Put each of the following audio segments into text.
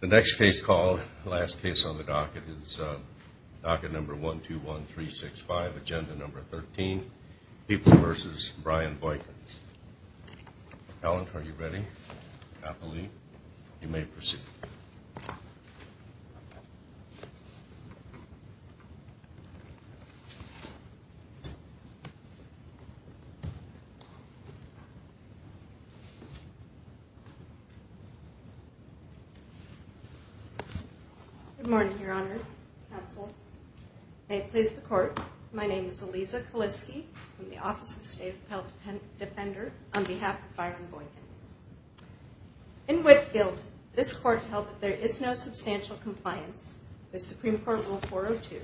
The next case called, last case on the docket, is docket number 121365, agenda number 13, People v. Brian Boykins. Alan, are you ready? I believe. You may proceed. Good morning, Your Honor, Counsel. May it please the Court, My name is Eliza Kaliske from the Office of the State of Appellate Defender on behalf of Brian Boykins. In Whitefield, this Court held that there is no substantial compliance with Supreme Court Rule 402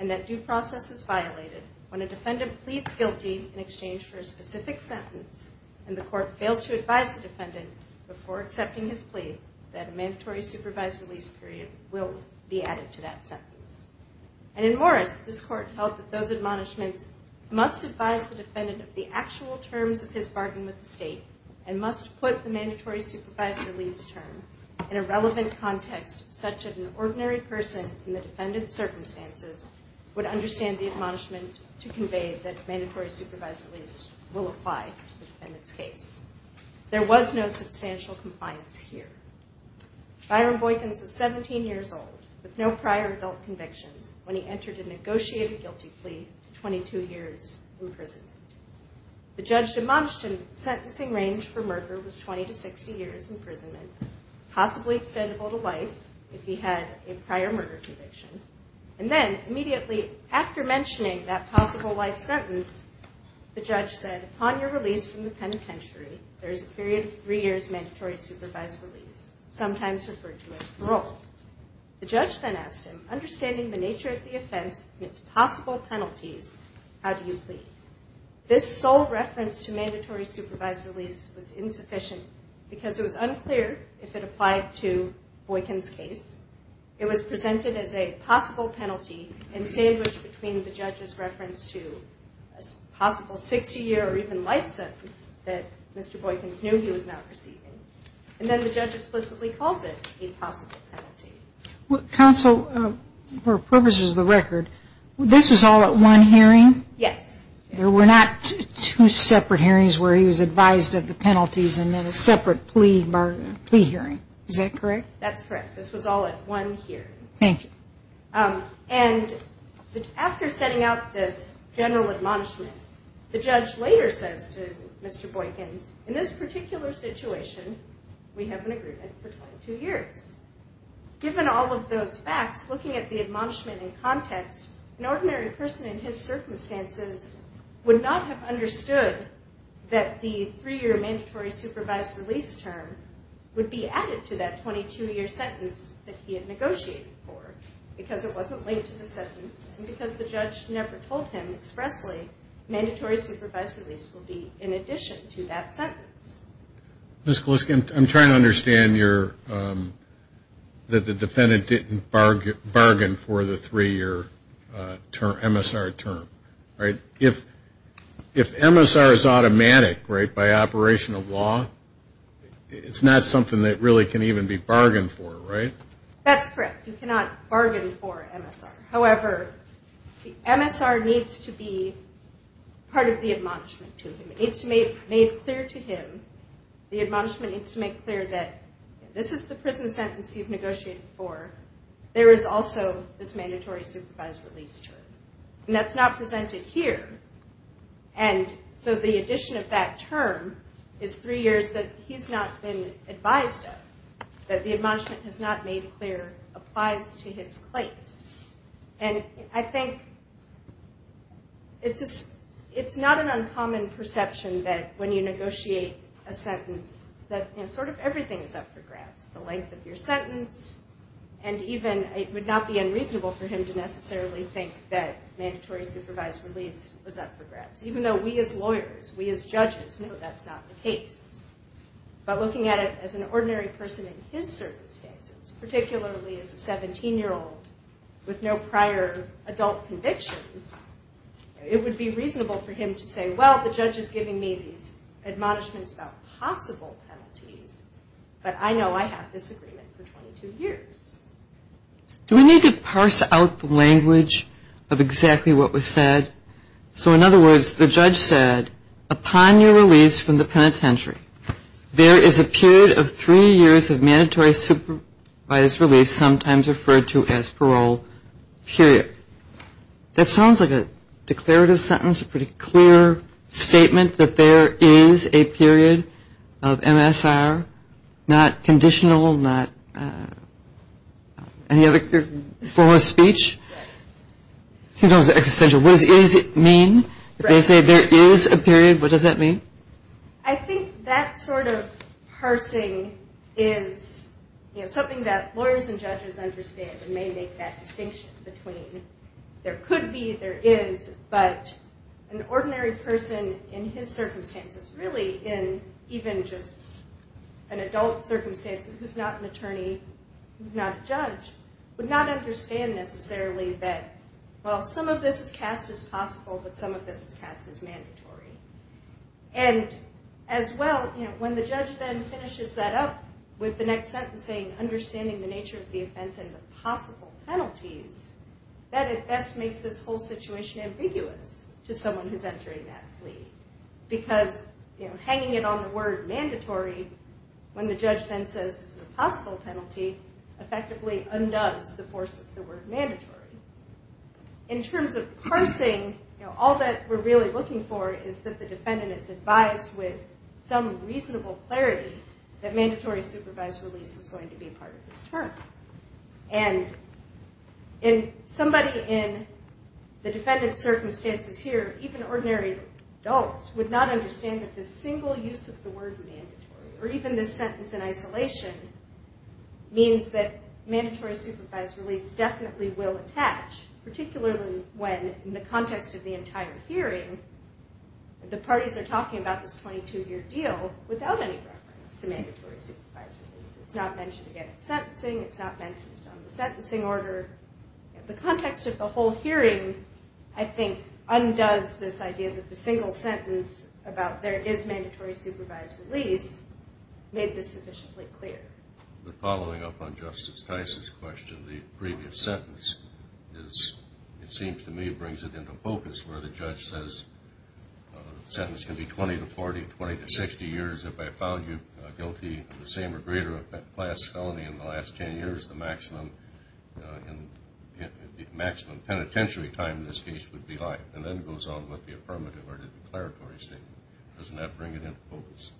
and that due process is violated when a defendant pleads guilty in exchange for a specific sentence and the Court fails to advise the defendant before accepting his plea that a mandatory supervised release period will be added to that sentence. And in Morris, this Court held that those admonishments must advise the defendant of the actual terms of his bargain with the State and must put the mandatory supervised release term in a relevant context such that an ordinary person in the defendant's circumstances would understand the admonishment to convey that mandatory supervised release will apply to the defendant's case. There was no substantial compliance here. Byron Boykins was 17 years old with no prior adult convictions when he entered a negotiated guilty plea to 22 years imprisonment. The judge admonished him that the sentencing range for murder was 20 to 60 years imprisonment, possibly extendable to life if he had a prior murder conviction. And then immediately after mentioning that possible life sentence, the judge said, upon your release from the penitentiary, there is a period of three years mandatory supervised release, sometimes referred to as parole. The judge then asked him, understanding the nature of the offense and its possible penalties, how do you plead? This sole reference to mandatory supervised release was insufficient because it was unclear if it applied to Boykins' case. It was presented as a possible penalty and sandwiched between the judge's reference to a possible 60-year or even life sentence that Mr. Boykins knew he was not receiving. And then the judge explicitly calls it a possible penalty. Counsel, for purposes of the record, this was all at one hearing? Yes. There were not two separate hearings where he was advised of the penalties and then a separate plea hearing. Is that correct? That's correct. This was all at one hearing. Thank you. And after setting out this general admonishment, the judge later says to Mr. Boykins, in this particular situation, we have an agreement for 22 years. Given all of those facts, looking at the admonishment in context, an ordinary person in his circumstances would not have understood that the three-year mandatory supervised release term would be added to that 22-year sentence that he had negotiated for because it wasn't linked to the sentence and because the judge never told him expressly mandatory supervised release would be in addition to that sentence. Ms. Kaliska, I'm trying to understand that the defendant didn't bargain for the three-year MSR term. If MSR is automatic, right, by operation of law, it's not something that really can even be bargained for, right? That's correct. You cannot bargain for MSR. However, MSR needs to be part of the admonishment to him. It needs to be made clear to him, the admonishment needs to make clear that this is the prison sentence you've negotiated for, there is also this mandatory supervised release term. And that's not presented here. And so the addition of that term is three years that he's not been advised of, that the admonishment has not made clear applies to his place. And I think it's not an uncommon perception that when you negotiate a sentence that sort of everything is up for grabs, the length of your sentence, and even it would not be unreasonable for him to necessarily think that mandatory supervised release was up for grabs. Even though we as lawyers, we as judges know that's not the case. But looking at it as an ordinary person in his circumstances, particularly as a 17-year-old with no prior adult convictions, it would be reasonable for him to say, well, the judge is giving me these admonishments about possible penalties, but I know I have this agreement for 22 years. Do we need to parse out the language of exactly what was said? So in other words, the judge said, upon your release from the penitentiary, there is a period of three years of mandatory supervised release, sometimes referred to as parole period. That sounds like a declarative sentence, a pretty clear statement that there is a period of MSR not conditional, not any other form of speech. Sometimes existential. What does it mean if they say there is a period? What does that mean? I think that sort of parsing is something that lawyers and judges understand and may make that distinction between there could be, there is, but an ordinary person in his circumstances, really in even just an adult circumstance who is not an attorney, who is not a judge, would not understand necessarily that, well, some of this is cast as possible, but some of this is cast as mandatory. And as well, when the judge then finishes that up with the next sentence saying, understanding the nature of the offense and the possible penalties, that at best makes this whole situation ambiguous to someone who is entering that plea because hanging it on the word mandatory, when the judge then says it's a possible penalty, effectively undoes the force of the word mandatory. In terms of parsing, all that we're really looking for is that the defendant is advised with some reasonable clarity that mandatory supervised release is going to be part of this term. And somebody in the defendant's circumstances here, even ordinary adults, would not understand that this single use of the word mandatory, or even this sentence in isolation, means that mandatory supervised release definitely will attach, particularly when, in the context of the entire hearing, the parties are talking about this 22-year deal without any reference to mandatory supervised release. It's not mentioned again in sentencing. It's not mentioned on the sentencing order. The context of the whole hearing, I think, undoes this idea that the single sentence about there is mandatory supervised release made this sufficiently clear. The following up on Justice Tice's question, the previous sentence, it seems to me brings it into focus where the judge says the sentence can be 20 to 40, 20 to 60 years if I found you guilty of the same or greater class felony in the last 10 years, the maximum penitentiary time in this case would be life, and then goes on with the affirmative or declaratory statement. Doesn't that bring it into focus?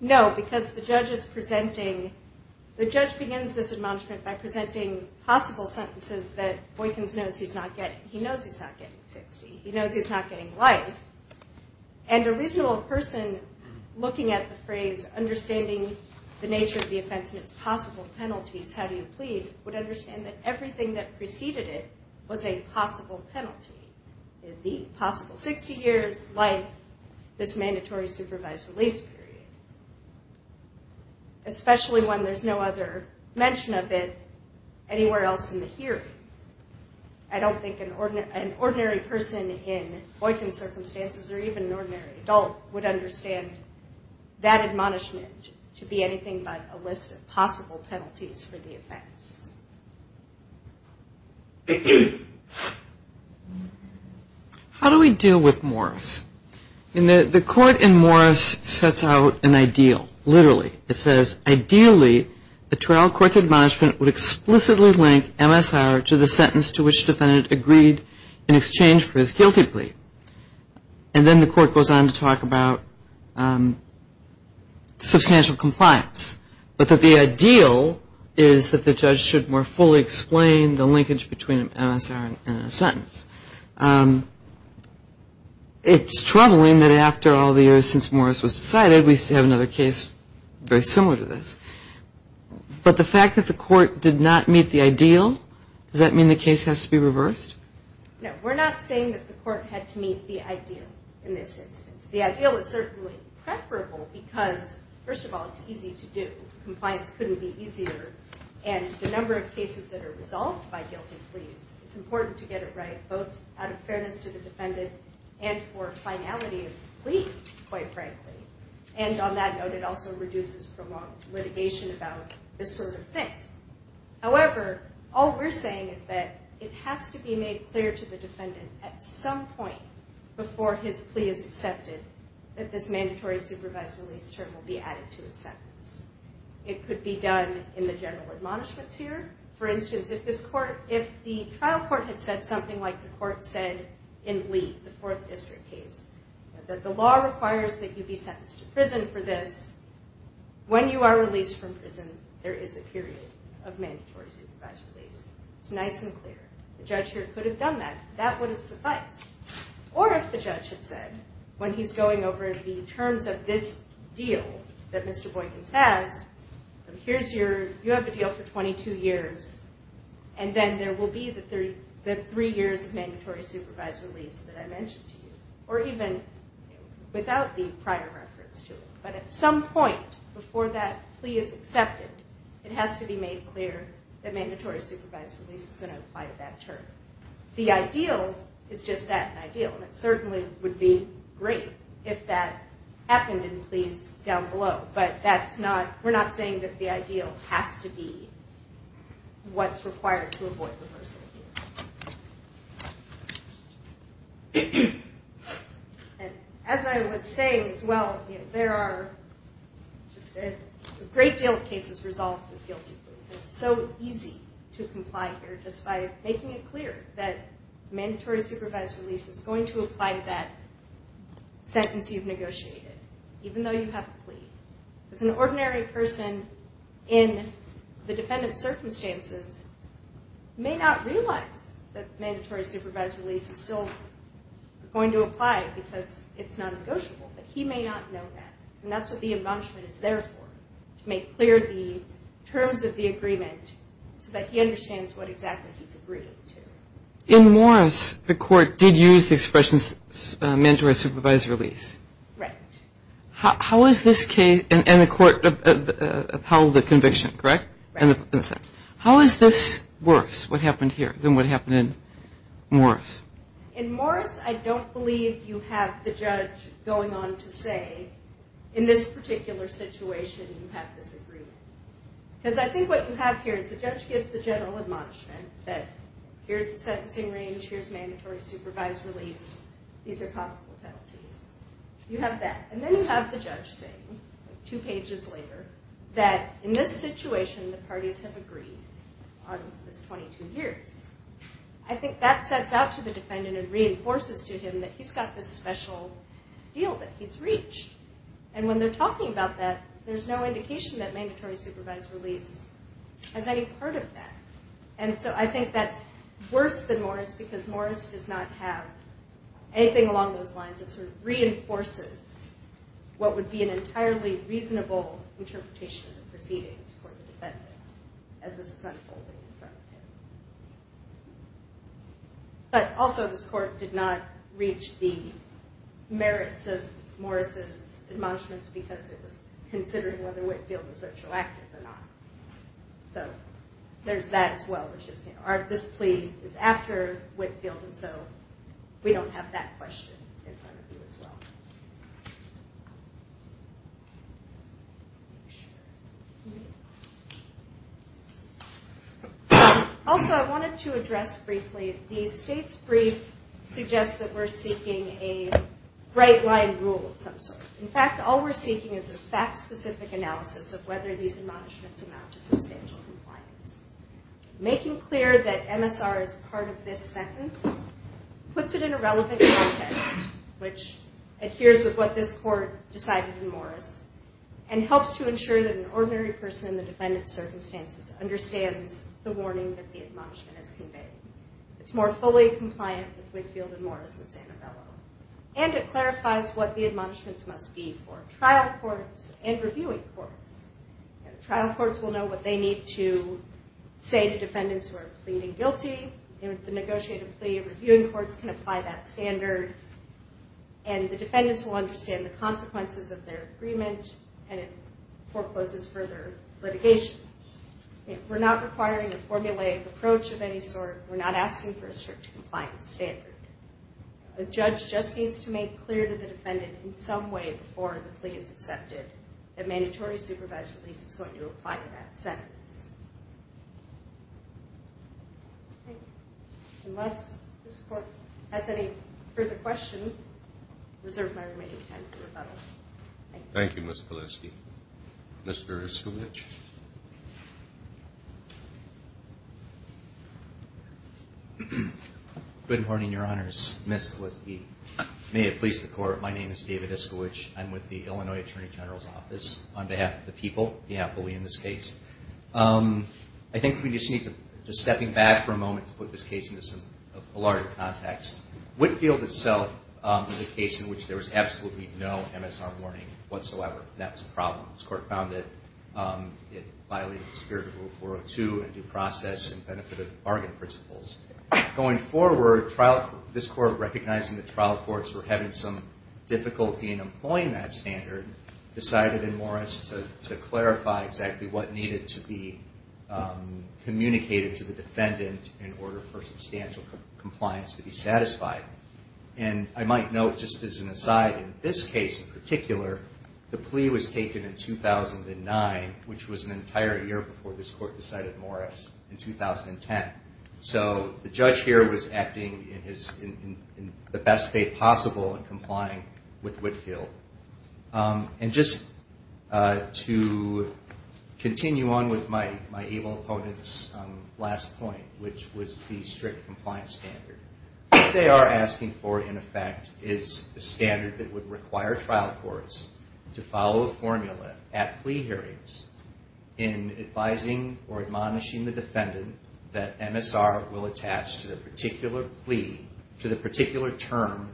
No, because the judge is presenting, the judge begins this admonishment by presenting possible sentences that Boykins knows he's not getting. He knows he's not getting 60. He knows he's not getting life. And a reasonable person looking at the phrase, understanding the nature of the offense and its possible penalties, how do you plead, would understand that everything that preceded it was a possible penalty, the possible 60 years, life, this mandatory supervised release period, especially when there's no other mention of it anywhere else in the hearing. I don't think an ordinary person in Boykins circumstances or even an ordinary adult would understand that admonishment to be anything but a list of possible penalties for the offense. How do we deal with Morris? The court in Morris sets out an ideal, literally. It says, ideally, a trial court's admonishment would explicitly link MSR to the sentence to which the defendant agreed in exchange for his guilty plea. And then the court goes on to talk about substantial compliance, but that the ideal is that the judge should more fully explain the linkage between MSR and a sentence. It's troubling that after all the years since Morris was decided, we still have another case very similar to this. But the fact that the court did not meet the ideal, does that mean the case has to be reversed? No, we're not saying that the court had to meet the ideal in this instance. The ideal is certainly preferable because, first of all, it's easy to do. Compliance couldn't be easier. And the number of cases that are resolved by guilty pleas, it's important to get it right both out of fairness to the defendant and for finality of the plea, quite frankly. And on that note, it also reduces prolonged litigation about this sort of thing. However, all we're saying is that it has to be made clear to the defendant at some point before his plea is accepted that this mandatory supervised release term will be added to his sentence. It could be done in the general admonishments here. For instance, if the trial court had said something like the court said in Lee, the Fourth District case, that the law requires that you be sentenced to prison for this, when you are released from prison, there is a period of mandatory supervised release. It's nice and clear. The judge here could have done that. That would have sufficed. Or if the judge had said, when he's going over the terms of this deal that Mr. Boykins has, you have a deal for 22 years, and then there will be the three years of mandatory supervised release that I mentioned to you, or even without the prior reference to it. But at some point before that plea is accepted, it has to be made clear that mandatory supervised release is going to apply to that term. The ideal is just that ideal, and it certainly would be great if that happened in pleas down below. But we're not saying that the ideal has to be what's required to avoid the person here. As I was saying as well, there are just a great deal of cases resolved with guilty pleas. It's so easy to comply here just by making it clear that mandatory supervised release is going to apply to that sentence you've negotiated. Even though you have a plea. As an ordinary person in the defendant's circumstances, may not realize that mandatory supervised release is still going to apply because it's non-negotiable. But he may not know that. And that's what the embellishment is there for, to make clear the terms of the agreement so that he understands what exactly he's agreeing to. In Morris, the court did use the expression mandatory supervised release. Right. How is this case, and the court upheld the conviction, correct? Right. How is this worse, what happened here, than what happened in Morris? In Morris, I don't believe you have the judge going on to say, in this particular situation, you have this agreement. Because I think what you have here is the judge gives the general admonishment that here's the sentencing range, here's mandatory supervised release, these are possible penalties. You have that. And then you have the judge saying, two pages later, that in this situation the parties have agreed on this 22 years. I think that sets out to the defendant and reinforces to him that he's got this special deal that he's reached. And when they're talking about that, there's no indication that mandatory supervised release has any part of that. And so I think that's worse than Morris, because Morris does not have anything along those lines. It sort of reinforces what would be an entirely reasonable interpretation of the proceedings for the defendant as this is unfolding in front of him. But also this court did not reach the merits of Morris's admonishments because it was considering whether Whitefield was retroactive or not. So there's that as well. This plea is after Whitefield, and so we don't have that question in front of you as well. Also, I wanted to address briefly, the state's brief suggests that we're seeking a right-line rule of some sort. In fact, all we're seeking is a fact-specific analysis of whether these admonishments amount to substantial compliance. Making clear that MSR is part of this sentence puts it in a relevant context, which adheres with what this court decided in Morris and helps to ensure that an ordinary person in the defendant's circumstances understands the warning that the admonishment has conveyed. It's more fully compliant with Whitefield and Morris than Sanabella, and it clarifies what the admonishments must be for trial courts and reviewing courts. Trial courts will know what they need to say to defendants who are pleading guilty, and with the negotiated plea, reviewing courts can apply that standard, and the defendants will understand the consequences of their agreement, and it forecloses further litigation. We're not requiring a formulaic approach of any sort. We're not asking for a strict compliance standard. A judge just needs to make clear to the defendant in some way before the plea is accepted that mandatory supervised release is going to apply to that sentence. Unless this court has any further questions, I reserve my remaining time for rebuttal. Thank you, Ms. Polisky. Mr. Iskowitz. Good morning, Your Honors. Ms. Polisky. May it please the Court, my name is David Iskowitz. I'm with the Illinois Attorney General's Office. On behalf of the people, I believe in this case. I think we just need to, just stepping back for a moment, to put this case into some, a larger context. Whitefield itself is a case in which there was absolutely no MSR warning whatsoever. That was a problem. This Court found that it violated the spirit of Rule 402 and due process and benefit of bargain principles. Going forward, this Court, recognizing that trial courts were having some difficulty in employing that standard, decided in Morris to clarify exactly what needed to be communicated to the defendant in order for substantial compliance to be satisfied. And I might note, just as an aside, in this case in particular, the plea was taken in 2009, which was an entire year before this Court decided Morris, in 2010. So the judge here was acting in the best faith possible in complying with Whitefield. And just to continue on with my evil opponent's last point, which was the strict compliance standard. What they are asking for, in effect, is a standard that would require trial courts to follow a formula at plea hearings in advising or admonishing the defendant that MSR will attach to the particular plea, to the particular term,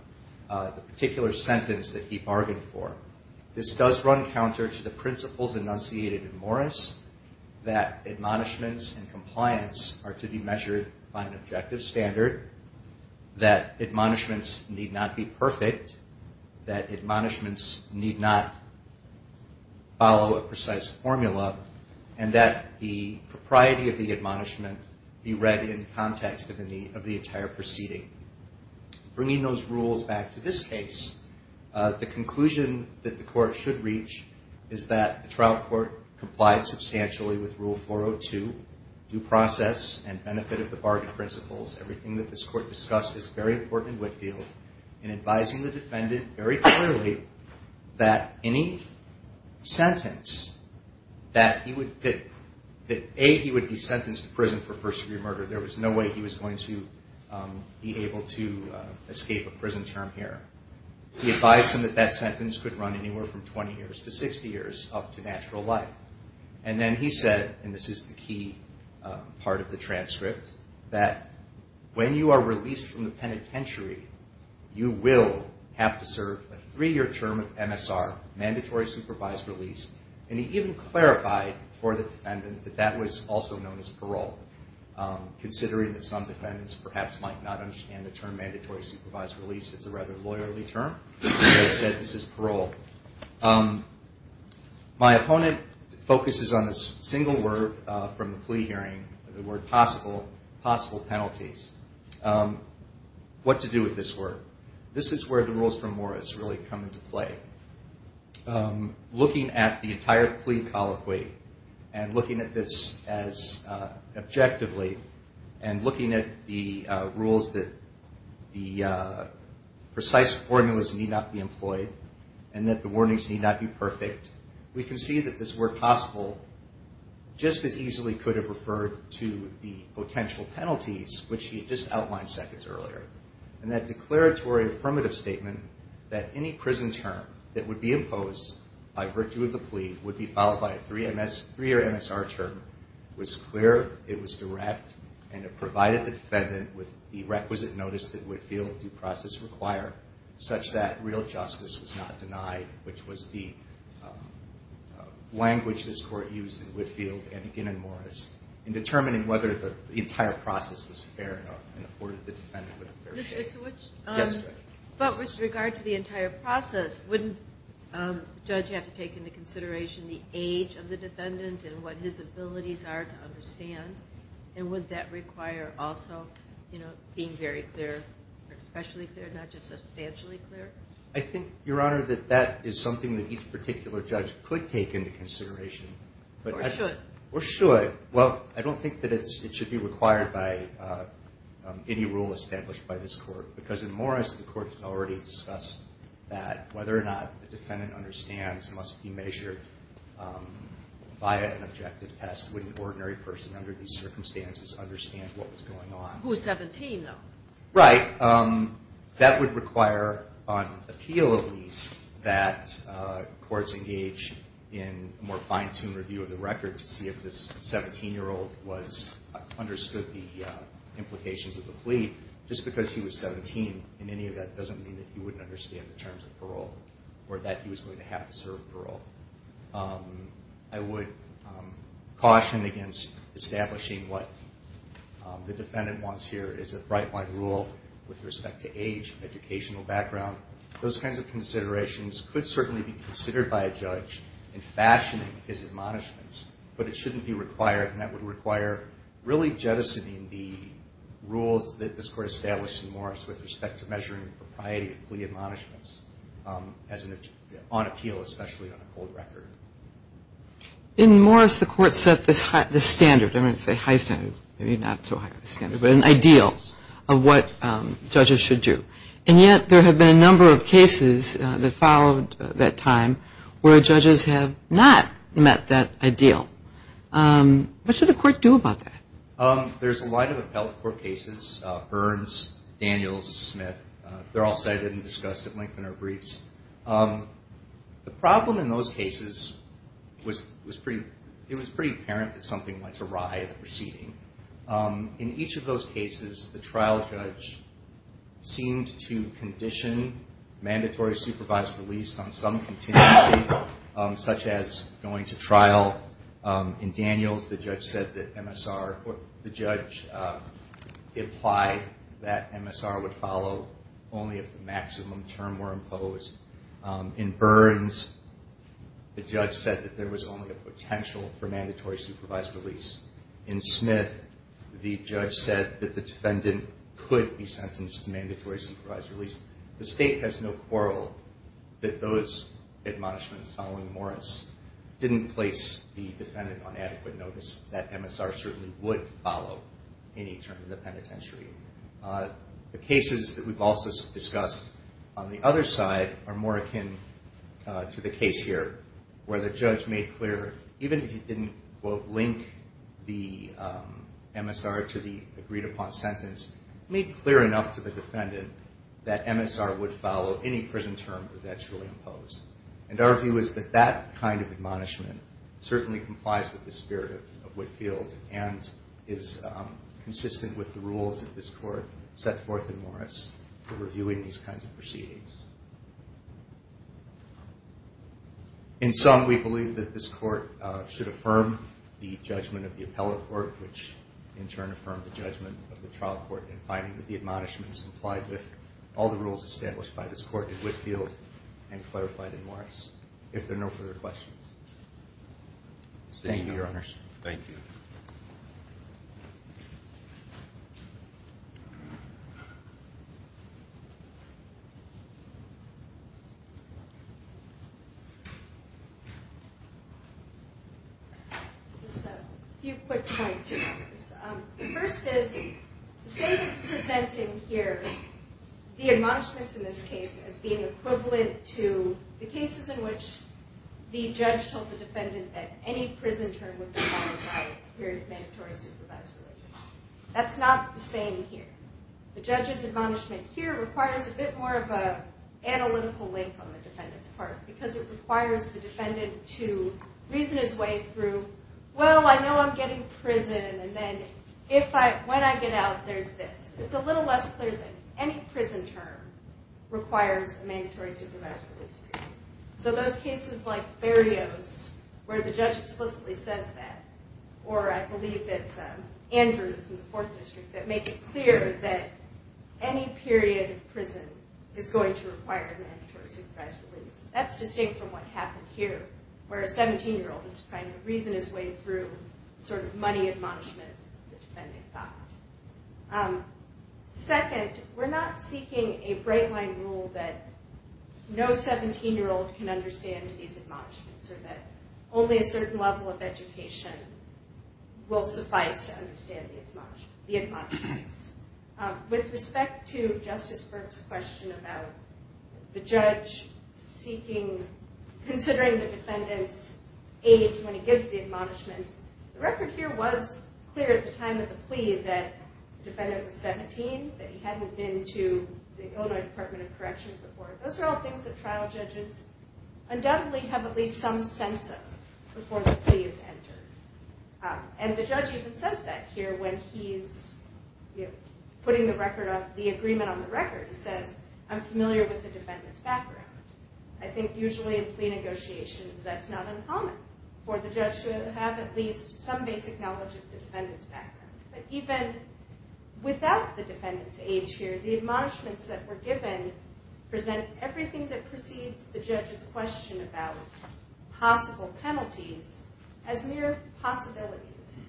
the particular sentence that he bargained for. This does run counter to the principles enunciated in Morris, that admonishments and compliance are to be measured by an objective standard, that admonishments need not be perfect, that admonishments need not follow a precise formula, and that the propriety of the admonishment be read in the context of the entire proceeding. Bringing those rules back to this case, the conclusion that the Court should reach is that the trial court complied substantially with Rule 402, due process and benefit of the bargain principles. Everything that this Court discussed is very important in Whitefield in advising the defendant very clearly that any sentence that he would get, that A, he would be sentenced to prison for first-degree murder. There was no way he was going to be able to escape a prison term here. He advised him that that sentence could run anywhere from 20 years to 60 years, up to natural life. And then he said, and this is the key part of the transcript, that when you are released from the penitentiary, you will have to serve a three-year term of MSR, mandatory supervised release, and he even clarified for the defendant that that was also known as parole. Considering that some defendants perhaps might not understand the term mandatory supervised release, it's a rather lawyerly term, they said this is parole. My opponent focuses on a single word from the plea hearing, the word possible, possible penalties. What to do with this word? This is where the rules from Morris really come into play. Looking at the entire plea colloquy and looking at this as objectively and looking at the rules that the precise formulas need not be employed and that the warnings need not be perfect, we can see that this word possible just as easily could have referred to the potential penalties, which he had just outlined seconds earlier. And that declaratory affirmative statement that any prison term that would be imposed by virtue of the plea would be followed by a three-year MSR term was clear, it was direct, and it provided the defendant with the requisite notice that Whitfield due process require such that real justice was not denied, which was the language this court used in Whitfield and again in Morris in determining whether the entire process was fair enough and afforded the defendant with a fair chance. But with regard to the entire process, wouldn't the judge have to take into consideration the age of the defendant and what his abilities are to understand? And would that require also being very clear or especially clear, not just substantially clear? I think, Your Honor, that that is something that each particular judge could take into consideration. Or should. Or should. Well, I don't think that it should be required by any rule established by this court, because in Morris the court has already discussed that, whether or not the defendant understands must be measured via an objective test. Wouldn't the ordinary person under these circumstances understand what was going on? Who is 17, though? Right. That would require on appeal at least that courts engage in a more fine-tuned review of the record to see if this 17-year-old understood the implications of the plea. Just because he was 17 in any of that doesn't mean that he wouldn't understand the terms of parole or that he was going to have to serve parole. I would caution against establishing what the defendant wants here is a bright-white rule with respect to age, educational background. Those kinds of considerations could certainly be considered by a judge in fashioning his admonishments, but it shouldn't be required, and that would require really jettisoning the rules that this Court established in Morris with respect to measuring the propriety of plea admonishments on appeal, especially on a cold record. In Morris, the Court set this standard. I'm going to say high standard, maybe not so high of a standard, but an ideal of what judges should do. And yet there have been a number of cases that followed that time where judges have not met that ideal. What should the Court do about that? There's a line of appellate court cases, Burns, Daniels, Smith. They're all cited and discussed at length in our briefs. The problem in those cases was it was pretty apparent that something went awry in the proceeding. In each of those cases, the trial judge seemed to condition mandatory supervised release on some contingency, such as going to trial in Daniels. The judge said that MSR or the judge implied that MSR would follow only if the maximum term were imposed. In Burns, the judge said that there was only a potential for mandatory supervised release. In Smith, the judge said that the defendant could be sentenced to mandatory supervised release. The State has no quarrel that those admonishments following Morris didn't place the defendant on adequate notice, that MSR certainly would follow any term in the penitentiary. The cases that we've also discussed on the other side are more akin to the case here, where the judge made clear, even if he didn't, quote, link the MSR to the agreed-upon sentence, made clear enough to the defendant that MSR would follow any prison term that was actually imposed. And our view is that that kind of admonishment certainly complies with the spirit of Whitefield and is consistent with the rules that this Court set forth in Morris for reviewing these kinds of proceedings. In sum, we believe that this Court should affirm the judgment of the appellate court, which in turn affirmed the judgment of the trial court in finding that the admonishments complied with all the rules established by this Court in Whitefield and clarified in Morris, if there are no further questions. Thank you, Your Honors. Thank you. Just a few quick points, Your Honors. The first is the state is presenting here the admonishments in this case as being equivalent to the cases in which the judge told the defendant that any prison term would be followed by a period of mandatory supervised release. That's not the same here. The judge's admonishment here requires a bit more of an analytical link on the defendant's part because it requires the defendant to reason his way through, well, I know I'm getting prison, and then when I get out, there's this. It's a little less clear than any prison term requires a mandatory supervised release period. So those cases like Berio's, where the judge explicitly says that, or I believe it's Andrew's in the Fourth District that makes it clear that any period of prison is going to require a mandatory supervised release. That's distinct from what happened here, where a 17-year-old is trying to reason his way through money admonishments that the defendant got. Second, we're not seeking a bright-line rule that no 17-year-old can understand these admonishments or that only a certain level of education will suffice to understand the admonishments. With respect to Justice Burke's question about the judge considering the defendant's age when he gives the admonishments, the record here was clear at the time of the plea that the defendant was 17, that he hadn't been to the Illinois Department of Corrections before. Those are all things that trial judges undoubtedly have at least some sense of before the plea is entered. And the judge even says that here when he's putting the agreement on the record. He says, I'm familiar with the defendant's background. I think usually in plea negotiations that's not uncommon for the judge to have at least some basic knowledge of the defendant's background. But even without the defendant's age here, the admonishments that were given present everything that precedes the judge's question about possible penalties as mere possibilities.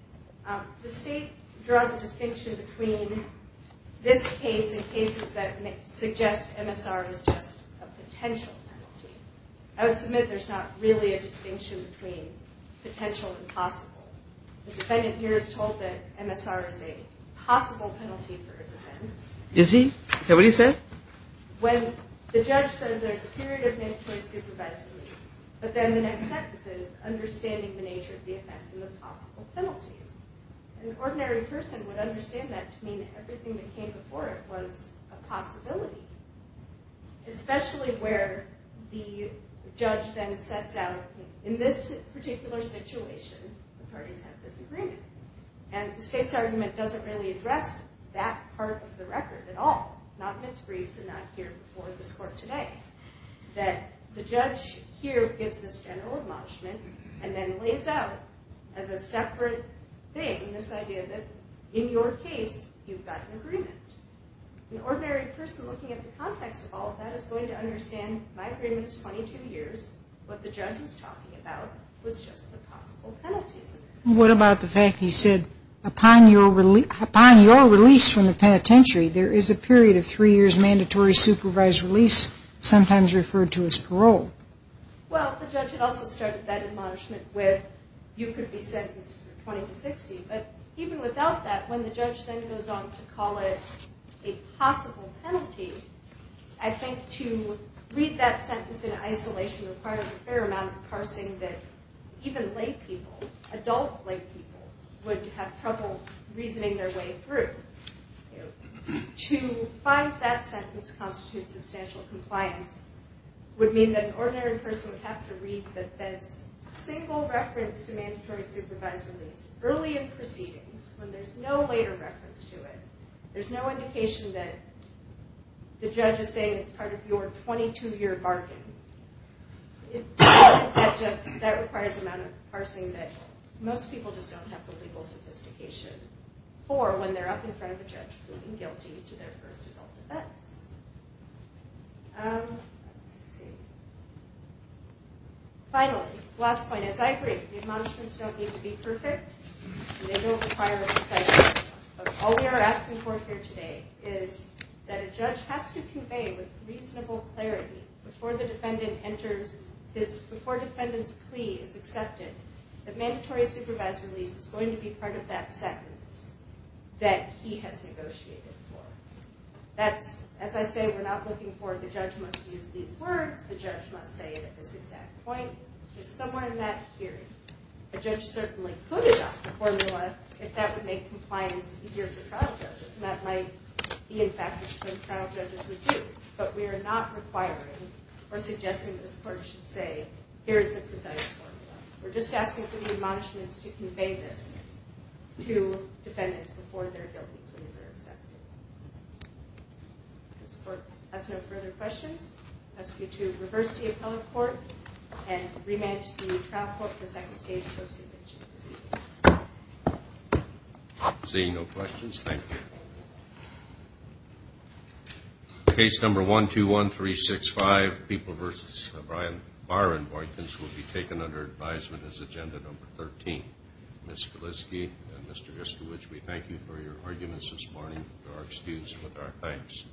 The state draws a distinction between this case and cases that suggest MSR is just a potential penalty. I would submit there's not really a distinction between potential and possible. The defendant here is told that MSR is a possible penalty for his offense. Is he? Is that what he said? When the judge says there's a period of mandatory supervised release, but then the next sentence is understanding the nature of the offense and the possible penalties. An ordinary person would understand that to mean everything that came before it was a possibility. Especially where the judge then sets out, in this particular situation, the parties have this agreement. And the state's argument doesn't really address that part of the record at all. Not in its briefs and not here before this court today. That the judge here gives this general admonishment and then lays out as a separate thing this idea that, in your case, you've got an agreement. An ordinary person looking at the context of all of that is going to understand my agreement is 22 years. What the judge was talking about was just the possible penalties. What about the fact he said, upon your release from the penitentiary, there is a period of three years mandatory supervised release, sometimes referred to as parole? Well, the judge had also started that admonishment with, you could be sentenced for 20 to 60. But even without that, when the judge then goes on to call it a possible penalty, I think to read that sentence in isolation requires a fair amount of parsing that even lay people, adult lay people, would have trouble reasoning their way through. To find that sentence constitutes substantial compliance would mean that an ordinary person would have to read that there's single reference to mandatory supervised release early in proceedings, when there's no later reference to it. There's no indication that the judge is saying it's part of your 22-year bargain. That requires a amount of parsing that most people just don't have the legal sophistication for when they're up in front of a judge proving guilty to their first adult offense. Let's see. Finally, last point. As I agree, the admonishments don't need to be perfect, and they don't require a precise judgment. All we are asking for here today is that a judge has to convey with reasonable clarity before the defendant's plea is accepted that mandatory supervised release is going to be part of that sentence that he has negotiated for. As I say, we're not looking for the judge must use these words, the judge must say it at this exact point. It's just somewhere in that hearing. A judge certainly could adopt a formula if that would make compliance easier for trial judges, and that might be, in fact, what trial judges would do. But we are not requiring or suggesting this court should say, here is the precise formula. We're just asking for the admonishments to convey this to defendants before their guilty pleas are accepted. If this court has no further questions, I ask you to reverse the appellate court and remand it to the trial court for second stage post-invention proceedings. Seeing no questions, thank you. Case number 121365, People v. O'Brien, Bar and Boykins, will be taken under advisement as agenda number 13. Ms. Kaliszke and Mr. Iskewicz, we thank you for your arguments this morning. To our students, with our thanks.